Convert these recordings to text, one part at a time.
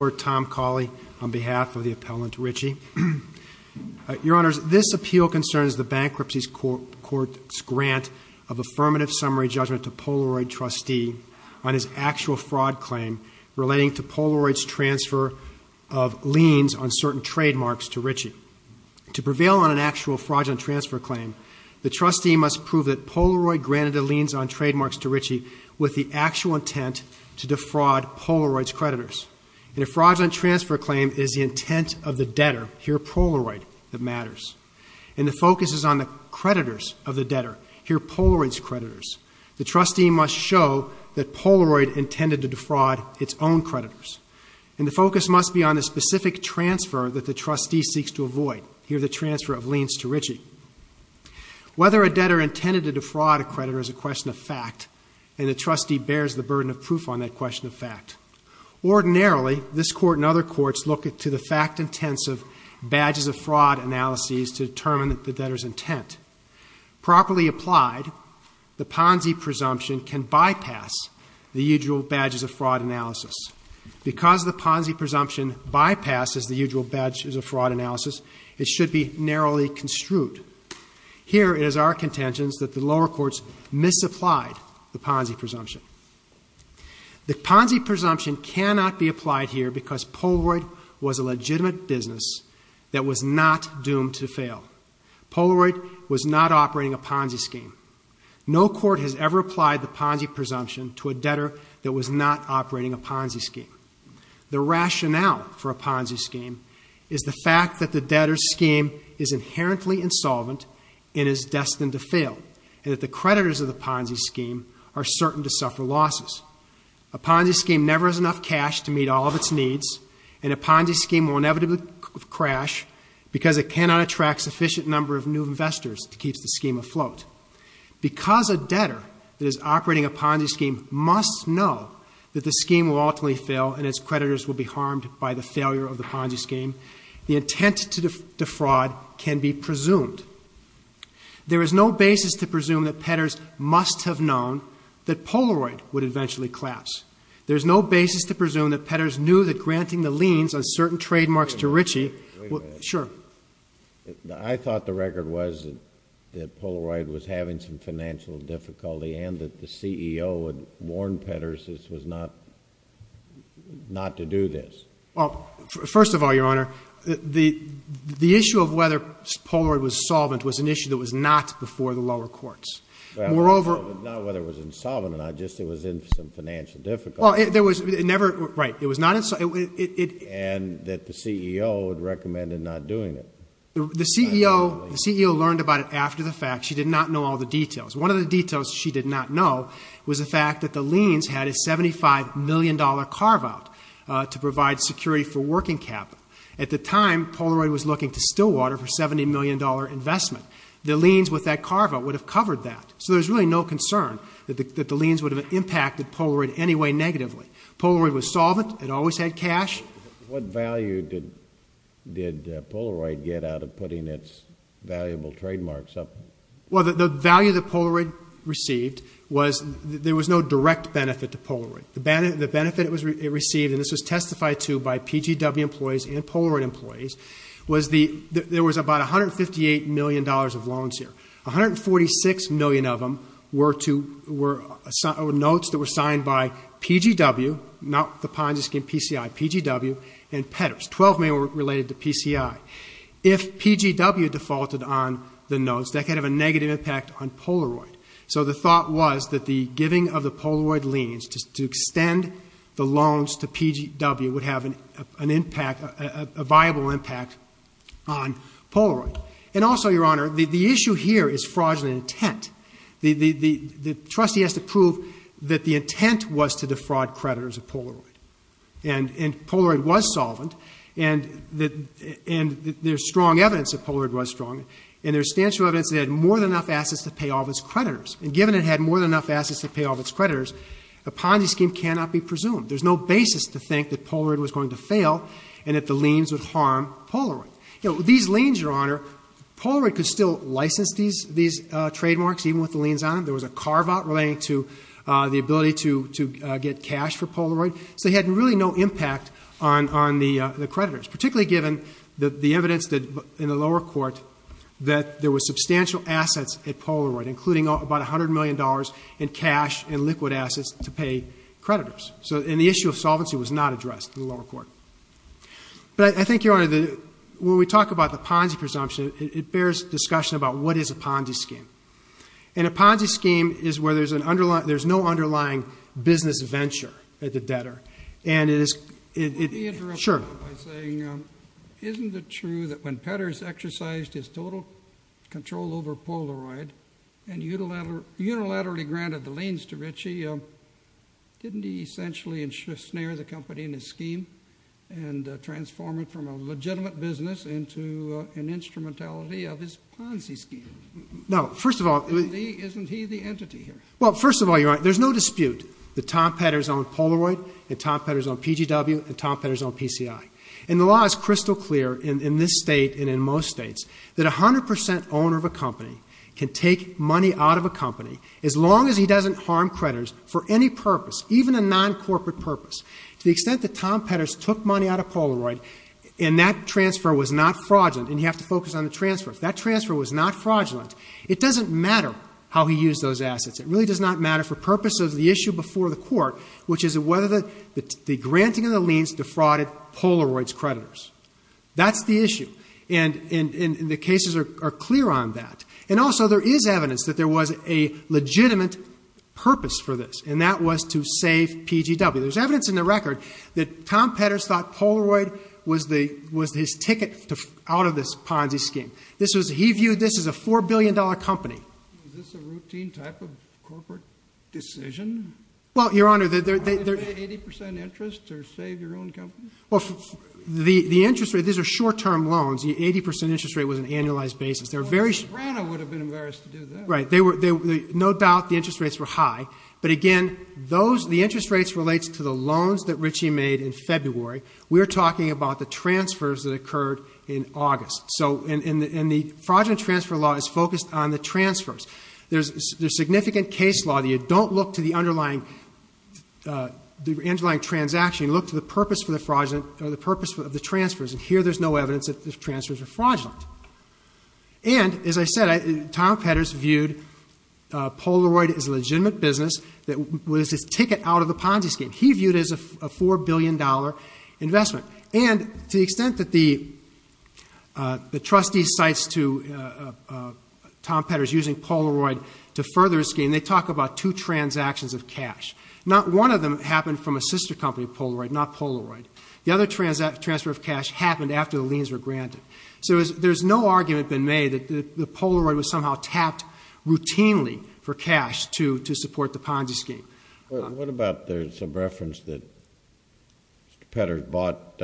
on behalf of the appellant Ritchie. Your Honors, this appeal concerns the Bankruptcy Court's grant of affirmative summary judgment to Polaroid trustee on his actual fraud claim relating to Polaroid's transfer of liens on certain trademarks to Ritchie. To prevail on an actual fraudulent transfer claim, the trustee must prove that Polaroid granted the liens on the liens to Ritchie. Whether a debtor intended to defraud a creditor is a question of fact, and the trustee bears the burden of proof on that question of fact. Ordinarily, this Court and other courts look to the fact-intensive badges-of-fraud analyses to determine the debtor's intent. Properly applied, the Ponzi presumption can bypass the usual badges-of-fraud analysis. Because the Ponzi presumption bypasses the usual badges-of-fraud analysis, it should be narrowly construed. Here, it is our contention that the lower courts misapplied the Ponzi presumption. The Ponzi presumption cannot be applied here because Polaroid was a legitimate business that was not doomed to fail. Polaroid was not operating a Ponzi scheme. No court has ever applied the Ponzi presumption to a debtor that was not operating a Ponzi scheme. The rationale for a Ponzi scheme is the fact that the debtor's scheme is inherently insolvent and is destined to fail, and that the creditors of the Ponzi scheme are certain to suffer losses. A Ponzi scheme never has enough cash to meet all of its needs, and a Ponzi scheme will inevitably crash because it cannot attract a sufficient number of new investors to keep the scheme afloat. Because a debtor that is operating a Ponzi scheme must know that the Ponzi scheme will fail and its creditors will be harmed by the failure of the Ponzi scheme, the intent to defraud can be presumed. There is no basis to presume that Petters must have known that Polaroid would eventually collapse. There is no basis to presume that Petters knew that granting the liens on certain trademarks to Ritchie would— Wait a minute. Sure. I thought the record was that Polaroid was having some financial difficulty and that not to do this. Well, first of all, Your Honor, the issue of whether Polaroid was solvent was an issue that was not before the lower courts. Moreover— Not whether it was insolvent or not, just it was in some financial difficulty. Well, it was never—right. It was not— And that the CEO had recommended not doing it. The CEO learned about it after the fact. She did not know all the details. One of the details she did not know was the fact that the liens had a $75 million carve-out to provide security for working capital. At the time, Polaroid was looking to Stillwater for a $70 million investment. The liens with that carve-out would have covered that. So there's really no concern that the liens would have impacted Polaroid in any way negatively. Polaroid was solvent. It always had cash. What value did Polaroid get out of putting its valuable trademarks up? Well, the value that Polaroid received was—there was no direct benefit to Polaroid. The benefit it received—and this was testified to by PGW employees and Polaroid employees—was the—there was about $158 million of loans here. 146 million of them were to—were notes that were signed by PGW—not the Ponzi scheme, PCI—PGW and Petters. 12 million were related to PCI. If PGW defaulted on the notes, that could have a negative impact on Polaroid. So the thought was that the giving of the Polaroid liens to extend the loans to PGW would have an impact—a viable impact on Polaroid. And also, Your Honor, the issue here is fraudulent intent. The trustee has to prove that the and there's strong evidence that Polaroid was fraudulent, and there's substantial evidence it had more than enough assets to pay off its creditors. And given it had more than enough assets to pay off its creditors, a Ponzi scheme cannot be presumed. There's no basis to think that Polaroid was going to fail and that the liens would harm Polaroid. These liens, Your Honor, Polaroid could still license these trademarks, even with the liens on them. There was a carve-out relating to the ability to get cash for Polaroid. So they had really no impact on the creditors, particularly given the evidence in the lower court that there were substantial assets at Polaroid, including about $100 million in cash and liquid assets to pay creditors. And the issue of solvency was not addressed in the lower court. But I think, Your Honor, when we talk about the Ponzi presumption, it bears discussion about what is a Ponzi scheme. And a Ponzi scheme is where there's no underlying business venture at the debtor. And it is, it, it, sure, isn't it true that when Petters exercised his total control over Polaroid and unilaterally granted the liens to Ritchie, didn't he essentially enshrine the company in his scheme and transform it from a legitimate business into an instrumentality of his Ponzi scheme? No, first of all, isn't he the entity here? Well, first of all, Your Honor, the, Tom Petters owned Polaroid, and Tom Petters owned PGW, and Tom Petters owned PCI. And the law is crystal clear in, in this state and in most states that a 100% owner of a company can take money out of a company, as long as he doesn't harm creditors for any purpose, even a non-corporate purpose. To the extent that Tom Petters took money out of Polaroid, and that transfer was not fraudulent, and you have to focus on the transfer, if that transfer was not fraudulent, it doesn't matter how he used those assets. It really does not matter for purpose of the issue before the court, which is whether the, the granting of the liens defrauded Polaroid's creditors. That's the issue. And, and, and, the cases are, are clear on that. And also, there is evidence that there was a legitimate purpose for this, and that was to save PGW. There's evidence in the record that Tom Petters thought Polaroid was the, was his ticket to, out of this Ponzi scheme. This was, he viewed this as a $4 billion company. Is this a routine type of corporate decision? Well, Your Honor, the, the, the, the, 80% interest to save your own company? Well, the, the interest rate, these are short-term loans. The 80% interest rate was an annualized basis. They're very short. Well, Sabrina would have been embarrassed to do that. Right. They were, they, no doubt the interest rates were high. But again, those, the interest rates relates to the loans that Ritchie made in February. We're talking about the transfers that occurred in August. So, and, and, and the fraudulent transfer law is focused on the transfers. There's, there's significant case law that you don't look to the underlying, the underlying transaction. You look to the purpose for the fraudulent, or the purpose of the transfers. And here, there's no evidence that the transfers are fraudulent. And, as I said, I, Tom Petters viewed Polaroid as a legitimate business that was his ticket out of the Ponzi scheme. He viewed it as a $4 billion investment. And to the extent that the, the trustee cites to Tom Petters using Polaroid to further his scheme, they talk about two transactions of cash. Not one of them happened from a sister company of Polaroid, not Polaroid. The other transfer, transfer of cash happened after the liens were granted. So, there's, there's no argument been made that the, the Polaroid was somehow tapped routinely for cash to, to support the Ponzi scheme. Well, what about there's some reference that Petters bought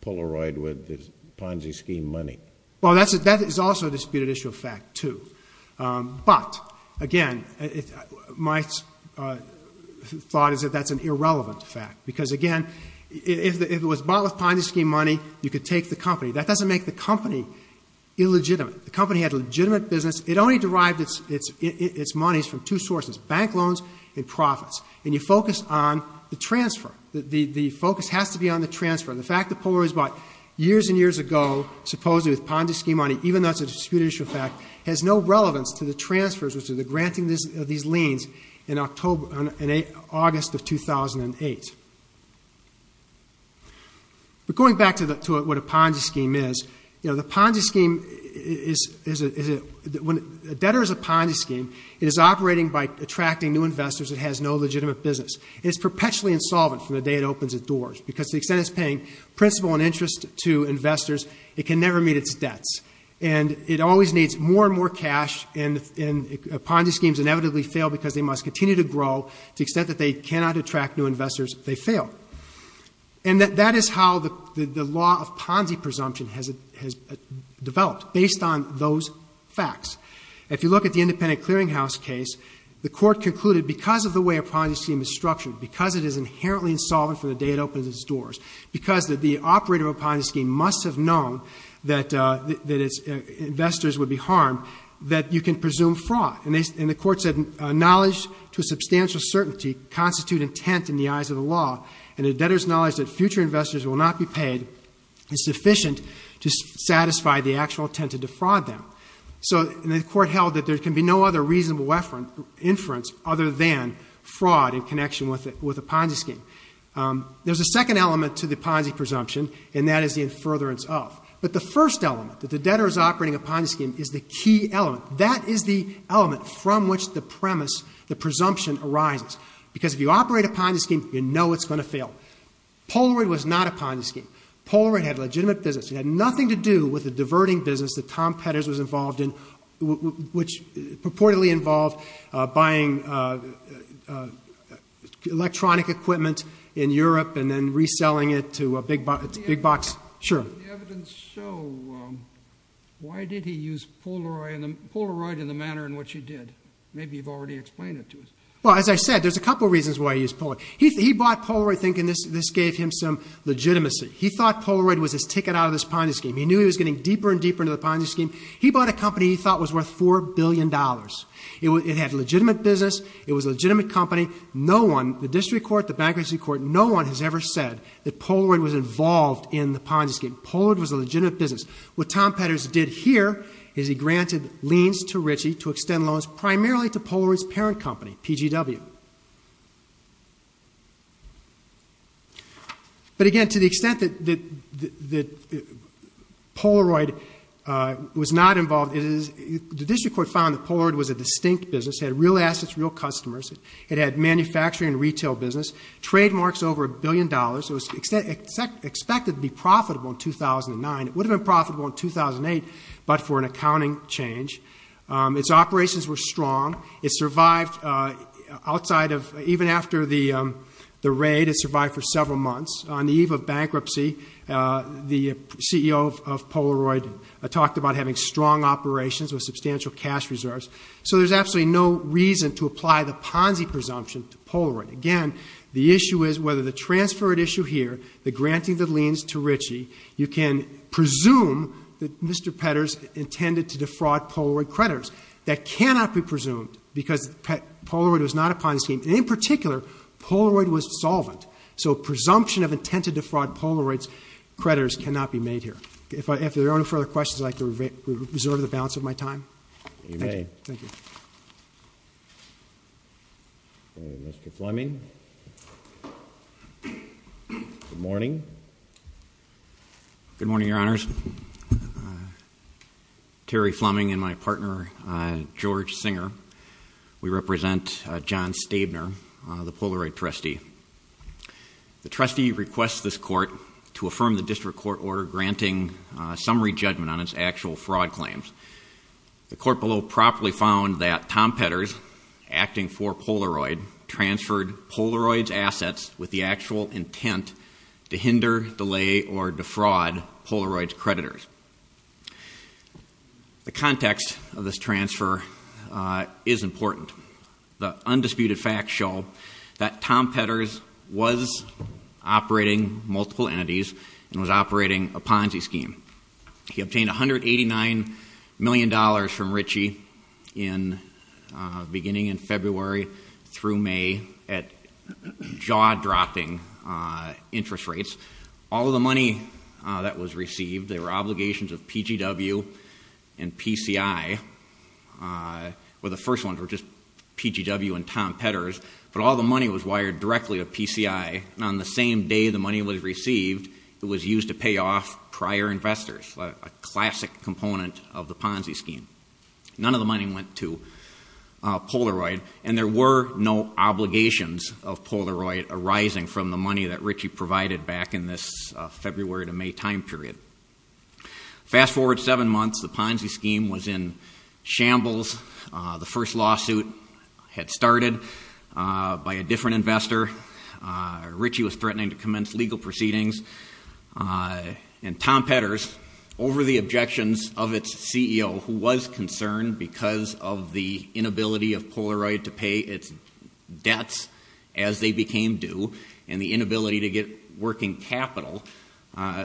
Polaroid with his Ponzi scheme money? Well, that's, that is also a disputed issue of fact, too. But, again, it, my thought is that that's an irrelevant fact. Because, again, if it was bought with Ponzi scheme money, you could take the company. That doesn't make the company illegitimate. The company had legitimate business. It only derived its, its, its monies from two sources, bank loans and profits. And you focus on the transfer. The, the, the focus has to be on the transfer. The fact that Polaroid was bought years and years ago, supposedly with Ponzi scheme money, even though it's a disputed issue of fact, has no relevance to the transfers or to the granting this, of these liens in October, in August of 2008. But going back to the, to what a Ponzi scheme is, you know, the Ponzi scheme is, is a, is a, when a debtor is a Ponzi scheme, it is operating by attracting new investors. It has no legitimate business. It's perpetually insolvent from the day it opens its doors. Because the extent it's paying principal and interest to investors, it can never meet its debts. And it always needs more and more cash. And, and Ponzi schemes inevitably fail because they must continue to grow to the extent that they cannot attract new investors. They fail. And that, that is how the, the, the law of Ponzi presumption has, has developed, based on those facts. If you look at the independent clearinghouse case, the court concluded because of the way a Ponzi scheme is structured, because it is inherently insolvent from the day it opens its doors, because the, the operator of a Ponzi scheme must have known that, that its investors would be harmed, that you can presume fraud. And they, and the court said knowledge to a substantial certainty constitute intent in the eyes of the law. And a debtor's knowledge that future investors will not be paid is sufficient to satisfy the actual intent to defraud them. So, and the court held that there can be no other reasonable inference, inference other than fraud in connection with a, with a Ponzi scheme. There's a second element to the Ponzi presumption, and that is the in furtherance of. But the first element, that the debtor is operating a Ponzi scheme, is the key element. That is the element from which the premise, the presumption arises. Because if you operate a Ponzi scheme, you know it's going to fail. Polaroid was not a Ponzi scheme. Polaroid had legitimate business. It had nothing to do with the diverting business that Tom Petters was involved in, which purportedly involved buying electronic equipment in Europe and then reselling it to a big box, big box. Sure. The evidence show, why did he use Polaroid in the manner in which he did? Maybe you've already explained it to us. Well, as I said, there's a couple reasons why he used Polaroid. He bought Polaroid thinking this gave him some legitimacy. He thought Polaroid was his ticket out of this Ponzi scheme. He knew he was getting deeper and deeper into the Ponzi scheme. He bought a company he thought was worth four billion dollars. It had legitimate business. It was a legitimate company. No one, the district court, the bankruptcy court, no one has ever said that Polaroid was involved in the Ponzi scheme. Polaroid was a legitimate business. What Tom Petters did here is he granted liens to Ritchie to extend loans primarily to Polaroid's parent company, PGW. But again, to the extent that Polaroid was not involved, the district court found that Polaroid was a distinct business. It had real assets, real customers. It had manufacturing and retail business, trademarks over a billion dollars. It was expected to be profitable in 2009. It would have been profitable in 2008, but for an accounting change. Its operations were strong. It survived outside of, even after the raid, it survived for several months. On the eve of bankruptcy, the CEO of Polaroid talked about having strong operations with substantial cash reserves. So there's absolutely no reason to issue here that granting the liens to Ritchie, you can presume that Mr. Petters intended to defraud Polaroid creditors. That cannot be presumed because Polaroid was not a Ponzi scheme. In particular, Polaroid was solvent. So presumption of intent to defraud Polaroid creditors cannot be made here. If there are no further questions, I'd like to reserve the balance of my time. Mr. Fleming. Good morning. Good morning, Your Honors. Terry Fleming and my partner, George Singer. We represent John Stabner, the Polaroid trustee. The trustee requests this court to affirm the district court order granting summary judgment on its actual fraud claims. The court below properly found that Tom Petters, acting for Polaroid, transferred Polaroid's assets with the actual intent to hinder, delay, or defraud Polaroid's creditors. The context of this transfer is important. The scheme. He obtained $189 million from Ritchie in beginning in February through May at jaw-dropping interest rates. All of the money that was received, there were obligations of PGW and PCI. Well, the first ones were just PGW and Tom Petters, but all the money was wired directly to PCI, and on the same day the money was received, it was used to pay off prior investors, a classic component of the Ponzi scheme. None of the money went to Polaroid, and there were no obligations of Polaroid arising from the money that Ritchie provided back in this February to May time period. Fast forward seven months, the Ponzi scheme was in shambles. The first lawsuit had started by a different investor. Ritchie was threatening to commence legal proceedings, and Tom Petters, over the objections of its CEO, who was concerned because of the inability of Polaroid to pay its debts as they became due, and the inability to get working capital,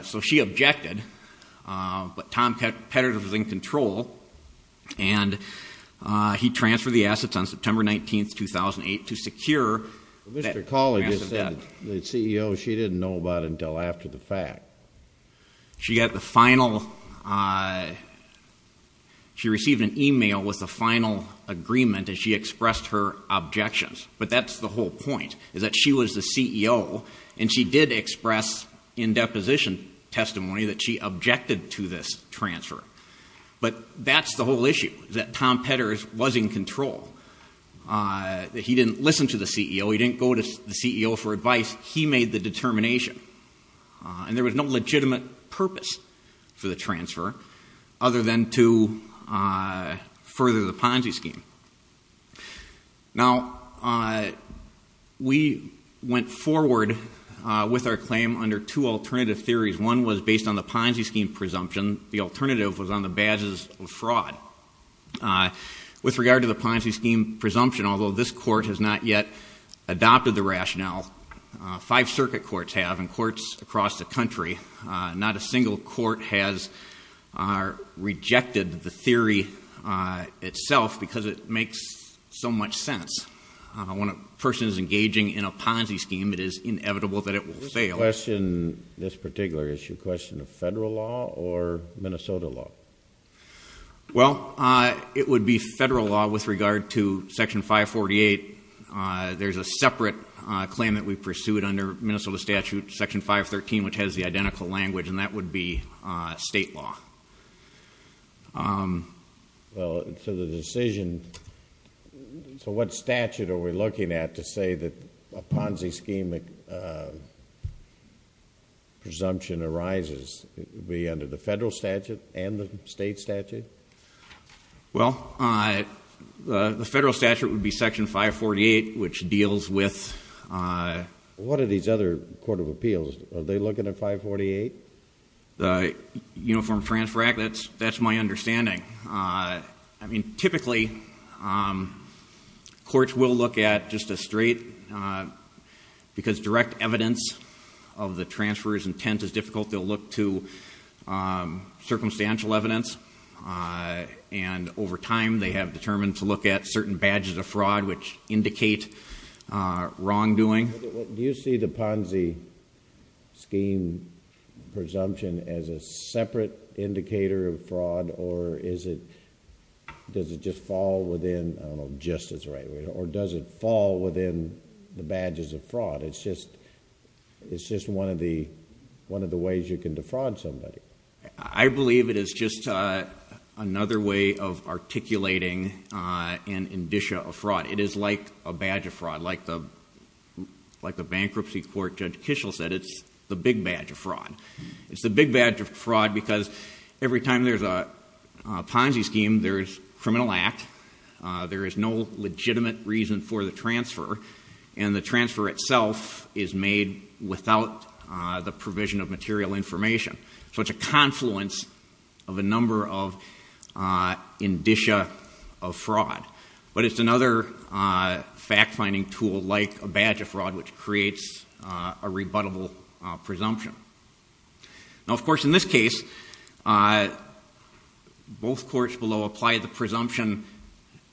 so she objected, but Tom Petters was in control, and he transferred the assets on September 19th, 2008, to secure... Mr. Colley just said the CEO, she didn't know about until after the fact. She got the final, she received an email with the final agreement, and she expressed her objections, but that's the whole point, is that she was the CEO, and she did express in deposition testimony that she objected to this transfer, but that's the whole issue, that Tom Petters was in control. He didn't listen to the CEO. He didn't go to the CEO for advice. He made the determination, and there was no legitimate purpose for the transfer other than to further the Ponzi scheme. Now, we went forward with our claim under two alternative theories. One was based on the Ponzi scheme presumption, although this court has not yet adopted the rationale. Five circuit courts have, and courts across the country. Not a single court has rejected the theory itself, because it makes so much sense. When a person is engaging in a Ponzi scheme, it is inevitable that it will fail. This question, this particular issue, question of federal law or Minnesota law? Well, it would be federal law with regard to Section 548. There's a separate claim that we pursued under Minnesota statute, Section 513, which has the identical language, and that would be state law. Well, so the decision, so what statute are we looking at to say that a Ponzi scheme presumption arises? It would be under the federal statute and the state statute? Well, the federal statute would be Section 548, which deals with... What are these other court of appeals? Are they looking at 548? The Uniform Transfer Act, that's my understanding. I mean, typically, courts will look at just a straight, because direct evidence of the transfer's intent is difficult, they'll look to circumstantial evidence. And over time, they have determined to look at certain badges of fraud, which indicate wrongdoing. Do you see the Ponzi scheme presumption as a separate indicator of fraud, or does it just fall within, I don't know, justice, or does it fall within the badges of fraud? It's just one of the ways you can defraud somebody. I believe it is just another way of articulating an indicia of fraud. It is like a badge of fraud, like the bankruptcy court Judge Kishel said, it's the big badge of fraud. It's the big badge of fraud because every time there's a Ponzi scheme, there's criminal act, there is no legitimate reason for the transfer, and the transfer itself is made without the provision of material information. So it's a confluence of a number of indicia of fraud. But it's another fact-finding tool, like a badge of fraud, which creates a rebuttable presumption. Now, of course, in this case, both courts below applied the presumption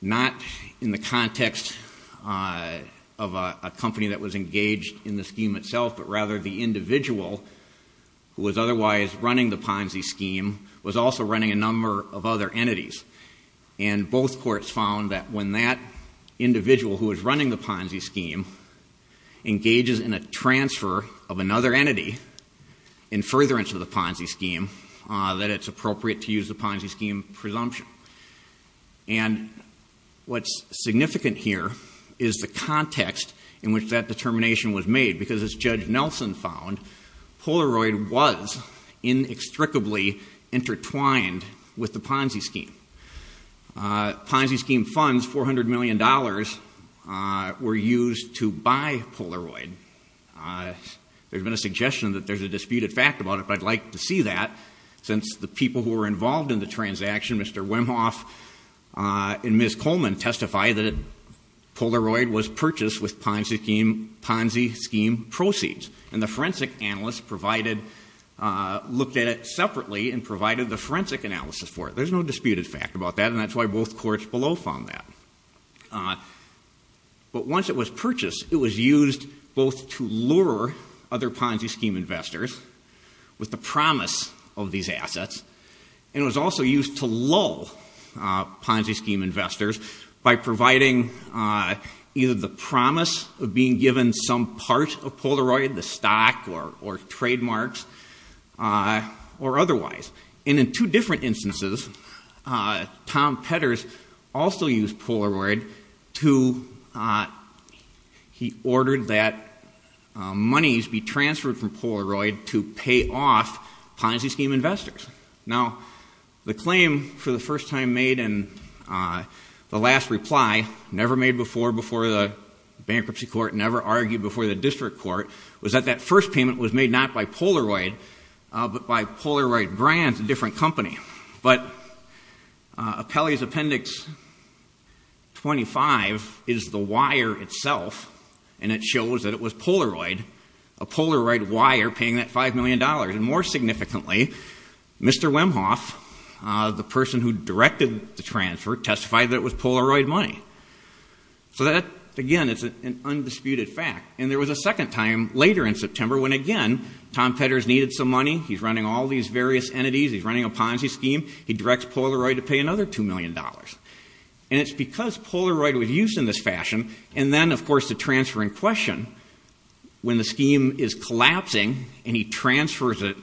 not in the context of a company that was engaged in the scheme itself, but rather the individual who was otherwise running the Ponzi scheme was also running a number of other entities. And both courts found that when that individual who was running the Ponzi scheme engages in a transfer of another entity in furtherance of the Ponzi scheme, that it's appropriate to use the Ponzi scheme presumption. And what's significant here is the context in which that determination was made, because as Judge Nelson found, Polaroid was inextricably intertwined with the Ponzi scheme. Ponzi scheme funds, $400 million, were used to buy Polaroid. There's been a suggestion that there's a disputed fact about it, but I'd like to see that, since the people who were involved in the transaction, Mr. Wimhoff and Ms. Coleman, testify that Polaroid was purchased with Ponzi scheme proceeds. And the forensic analyst provided, looked at it separately and provided the forensic analysis for it. There's no disputed fact about that, and that's why both courts below found that. But once it was purchased, it was used both to lure other Ponzi scheme investors with the promise of these assets, and it was also used to lull Ponzi scheme investors by providing either the promise of being given some part of Polaroid, the stock or trademarks, or otherwise. And in two different instances, Tom Petters also used Polaroid to, he ordered that monies be transferred from Polaroid to pay off Ponzi scheme investors. Now, the claim for the first time made and the last reply, never made before, before the bankruptcy court, never argued before the district court, was that that first payment was made not by Polaroid, but by Polaroid Brands, a different company. But Appellee's Appendix 25 is the wire itself, and it shows that it was Polaroid, a Polaroid wire, paying that five million dollars. And more significantly, Mr. Wimhoff, the person who directed the transfer, testified that it was Polaroid money. So that, again, it's an undisputed fact. And there was a second time, later in September, when again, Tom Petters needed some money, he's running all these various entities, he's running a Ponzi scheme, he directs Polaroid to pay another two million dollars. And it's because Polaroid was used in this fashion, and then, of course, the transfer in question, when the scheme is collapsing and he transfers it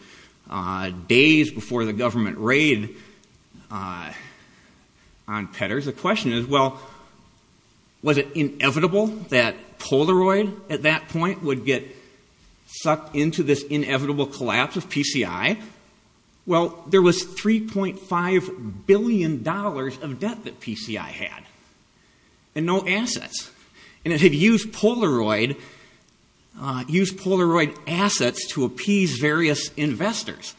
days before the government raid on Petters, the question is, well, was it inevitable that Polaroid, at that point, would get sucked into this inevitable collapse of PCI? Well, there was 3.5 billion dollars of debt that PCI had, and no assets. And it had used Polaroid, used Polaroid assets to appease various investors.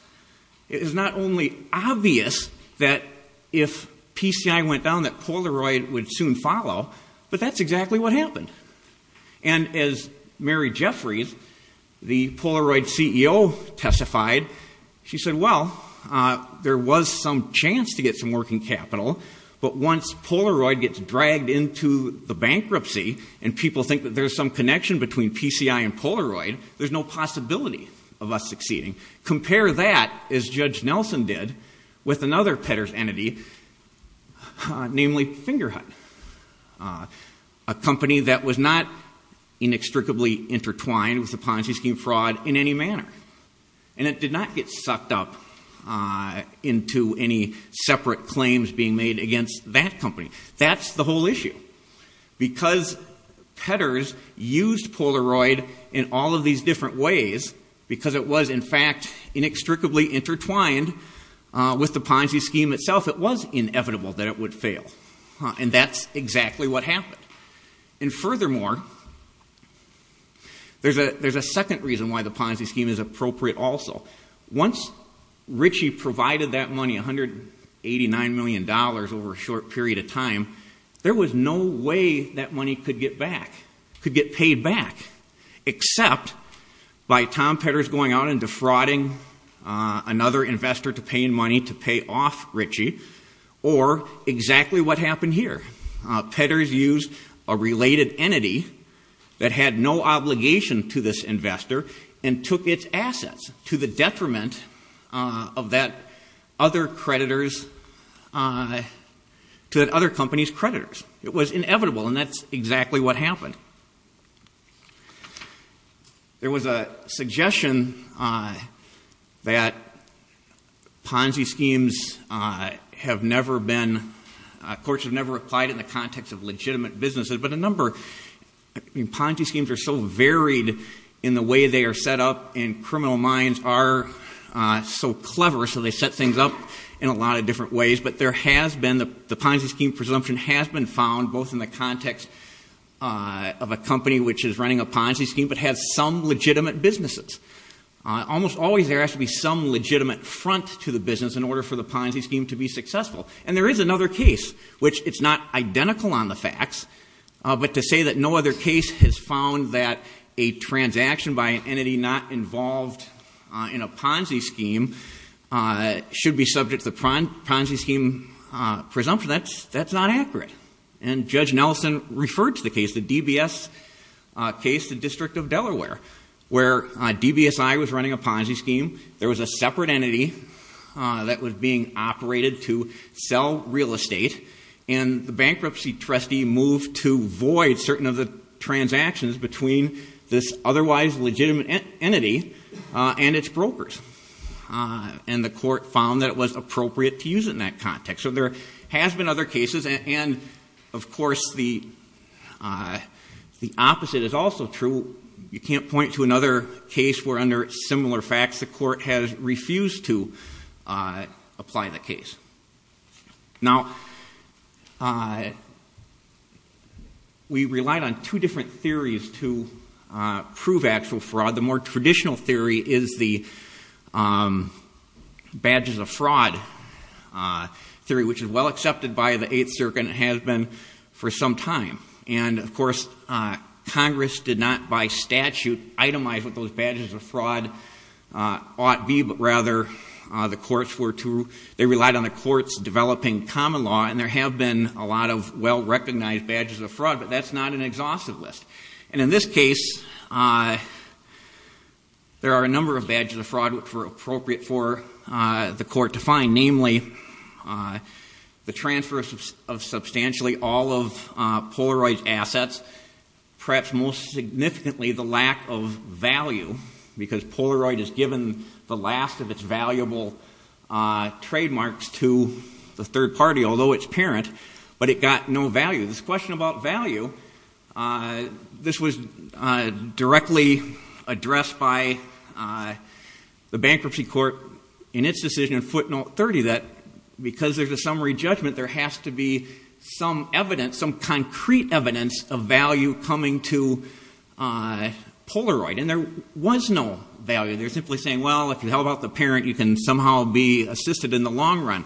It is not only obvious that if PCI went down, that Polaroid would soon follow, but that's exactly what happened. And as Mary Jeffries, the Polaroid CEO, testified, she said, well, there was some chance to get some working capital, but once Polaroid gets dragged into the bankruptcy, and people think that there's some connection between PCI and Polaroid, there's no possibility of us succeeding, compare that, as Judge Nelson did, with another Petters entity, namely Fingerhut, a company that was not inextricably intertwined with the Ponzi scheme fraud in any manner. And it did not get sucked up into any separate claims being made against that company. That's the whole issue. Because Petters used Polaroid in all of these different ways, because it was in fact inextricably intertwined with the Ponzi scheme itself, it was inevitable that it would fail. And that's exactly what happened. And furthermore, there's a second reason why the Ponzi scheme is appropriate also. Once Ritchie provided that money, 189 million dollars over a short period of time, there was no way that money could get back, could get paid back, except by Tom Petters going out and defrauding another investor to pay in money to pay off Ritchie, or exactly what happened here. Petters used a related entity that had no obligation to this investor and took its assets to the detriment of that other creditors, to that other company's creditors. It was inevitable, and that's exactly what happened. There was a suggestion that Ponzi schemes have never been, courts have never applied in the context of legitimate businesses, but a number, Ponzi schemes are so varied in the way they are set up, and criminal minds are so clever, so they set things up in a lot of different ways. But there has been, the Ponzi scheme presumption has been found, both in the context of a company which is running a Ponzi scheme, but has some legitimate businesses. Almost always there has to be some legitimate front to the business in order for the Ponzi scheme to be successful. And there is another case, which it's not identical on the facts, but to say that no other case has found that a transaction by an entity not involved in a Ponzi scheme should be subject to the Ponzi scheme presumption, that's not accurate. And Judge Nelson referred to the case, the DBS case, the District of Delaware, where DBSI was running a Ponzi scheme, there was a separate entity that was being operated to sell real estate, and the bankruptcy trustee moved to void certain of the transactions between this otherwise legitimate entity and its brokers. And the court found that it was appropriate to use it in that context. So there has been other cases, and of course the opposite is also true. You can't point to another case where under similar facts the court has applied the case. Now we relied on two different theories to prove actual fraud. The more traditional theory is the badges of fraud theory, which is well accepted by the 8th Circuit and has been for some time. And of course Congress did not by statute itemize what those badges of fraud ought be, but rather the courts were to, they relied on the courts developing common law, and there have been a lot of well-recognized badges of fraud, but that's not an exhaustive list. And in this case there are a number of badges of fraud which were appropriate for the court to find, namely the transfer of substantially all of Polaroid's assets, perhaps most significantly the lack of value, because Polaroid has given the last of its valuable trademarks to the third party, although its parent, but it got no value. This question about value, this was directly addressed by the Bankruptcy Court in its decision in footnote 30, that because there's a summary Polaroid, and there was no value, they're simply saying, well if you help out the parent you can somehow be assisted in the long run.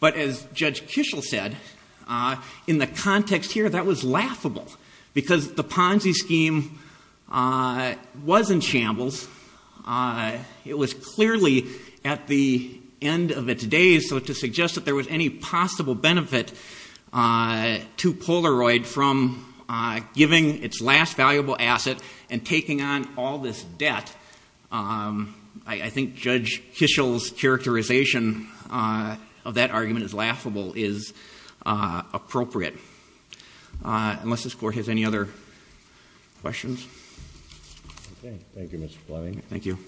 But as Judge Kishel said, in the context here that was laughable, because the Ponzi scheme was in shambles. It was clearly at the end of its days so to suggest that there was any possible benefit to Polaroid from giving its last valuable asset and taking on all this debt, I think Judge Kishel's characterization of that argument as laughable is appropriate. Unless this Court has any other questions. Thank you, Mr. Fleming. Thank you.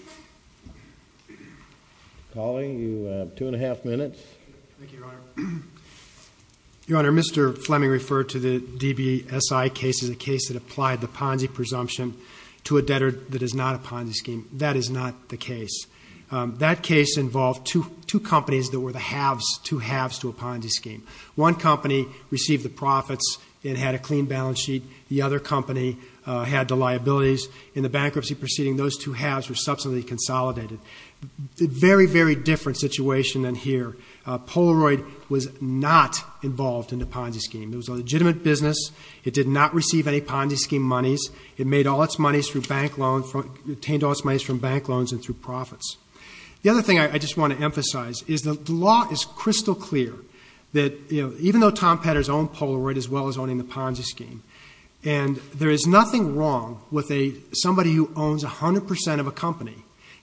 Colley, you have two and a half minutes. Thank you, Your Honor. Your Honor, Mr. Fleming referred to the DBSI case as a case that applied the Ponzi presumption to a debtor that is not a Ponzi scheme. That is not the case. That case involved two companies that were the halves, two halves to a Ponzi scheme. One company received the profits and had a clean balance sheet. The other company had the liabilities. In the bankruptcy proceeding, those two halves were subsequently consolidated. Very, very different situation than here. Polaroid was not involved in the Ponzi scheme. It was a legitimate business. It did not receive any Ponzi scheme monies. It made all its monies through bank loans, obtained all its monies from bank loans and through profits. The other thing I just want to emphasize is the law is crystal clear that even though Tom Petters owned Polaroid as well as owning the Ponzi scheme, and there is nothing wrong with somebody who owns 100 percent of a company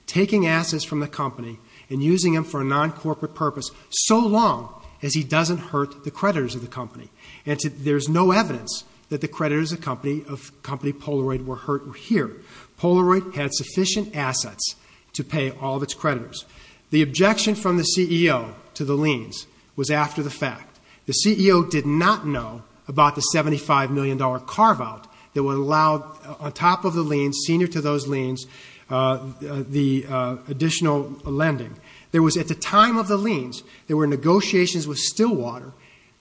taking assets from the company and using them for a non-corporate purpose so long as he doesn't hurt the creditors of the company. And there is no evidence that the creditors of the company Polaroid were hurt here. Polaroid had sufficient assets to pay all of its creditors. The objection from the CEO to the liens was after the fact. The CEO did not know about the $75 million carve-out that would allow on top of the liens, senior to those liens, the additional lending. There was at the time of the liens, there were negotiations with Stillwater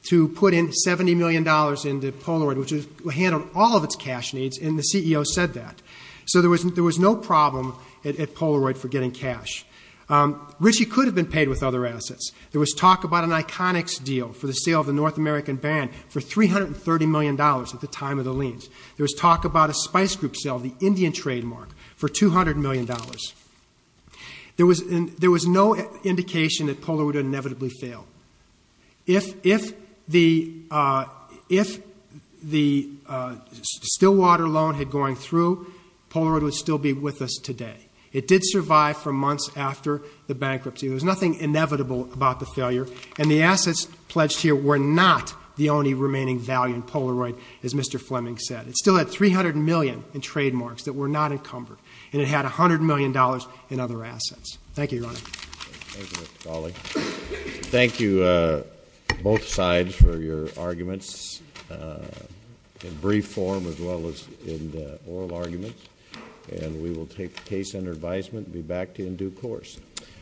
to put in $70 million into Polaroid, which handled all of its cash needs, and the CEO said that. So there was no problem at Polaroid for getting cash. Richey could have been paid with other assets. There was talk about an Iconics deal for the sale of the North American Band for $330 million at the time of the liens. There was talk about a Spice Group sale, the Indian trademark, for $200 million. There was no indication that Polaroid would inevitably fail. If the Stillwater loan had gone through, Polaroid would still be with us today. It did survive for months after the bankruptcy. There was nothing inevitable about the failure, and the assets pledged here were not the only remaining value in Polaroid, as Mr. Fleming said. It still had $300 million in trademarks that were not encumbered, and it had $100 million in other assets. Thank you, Your Honor.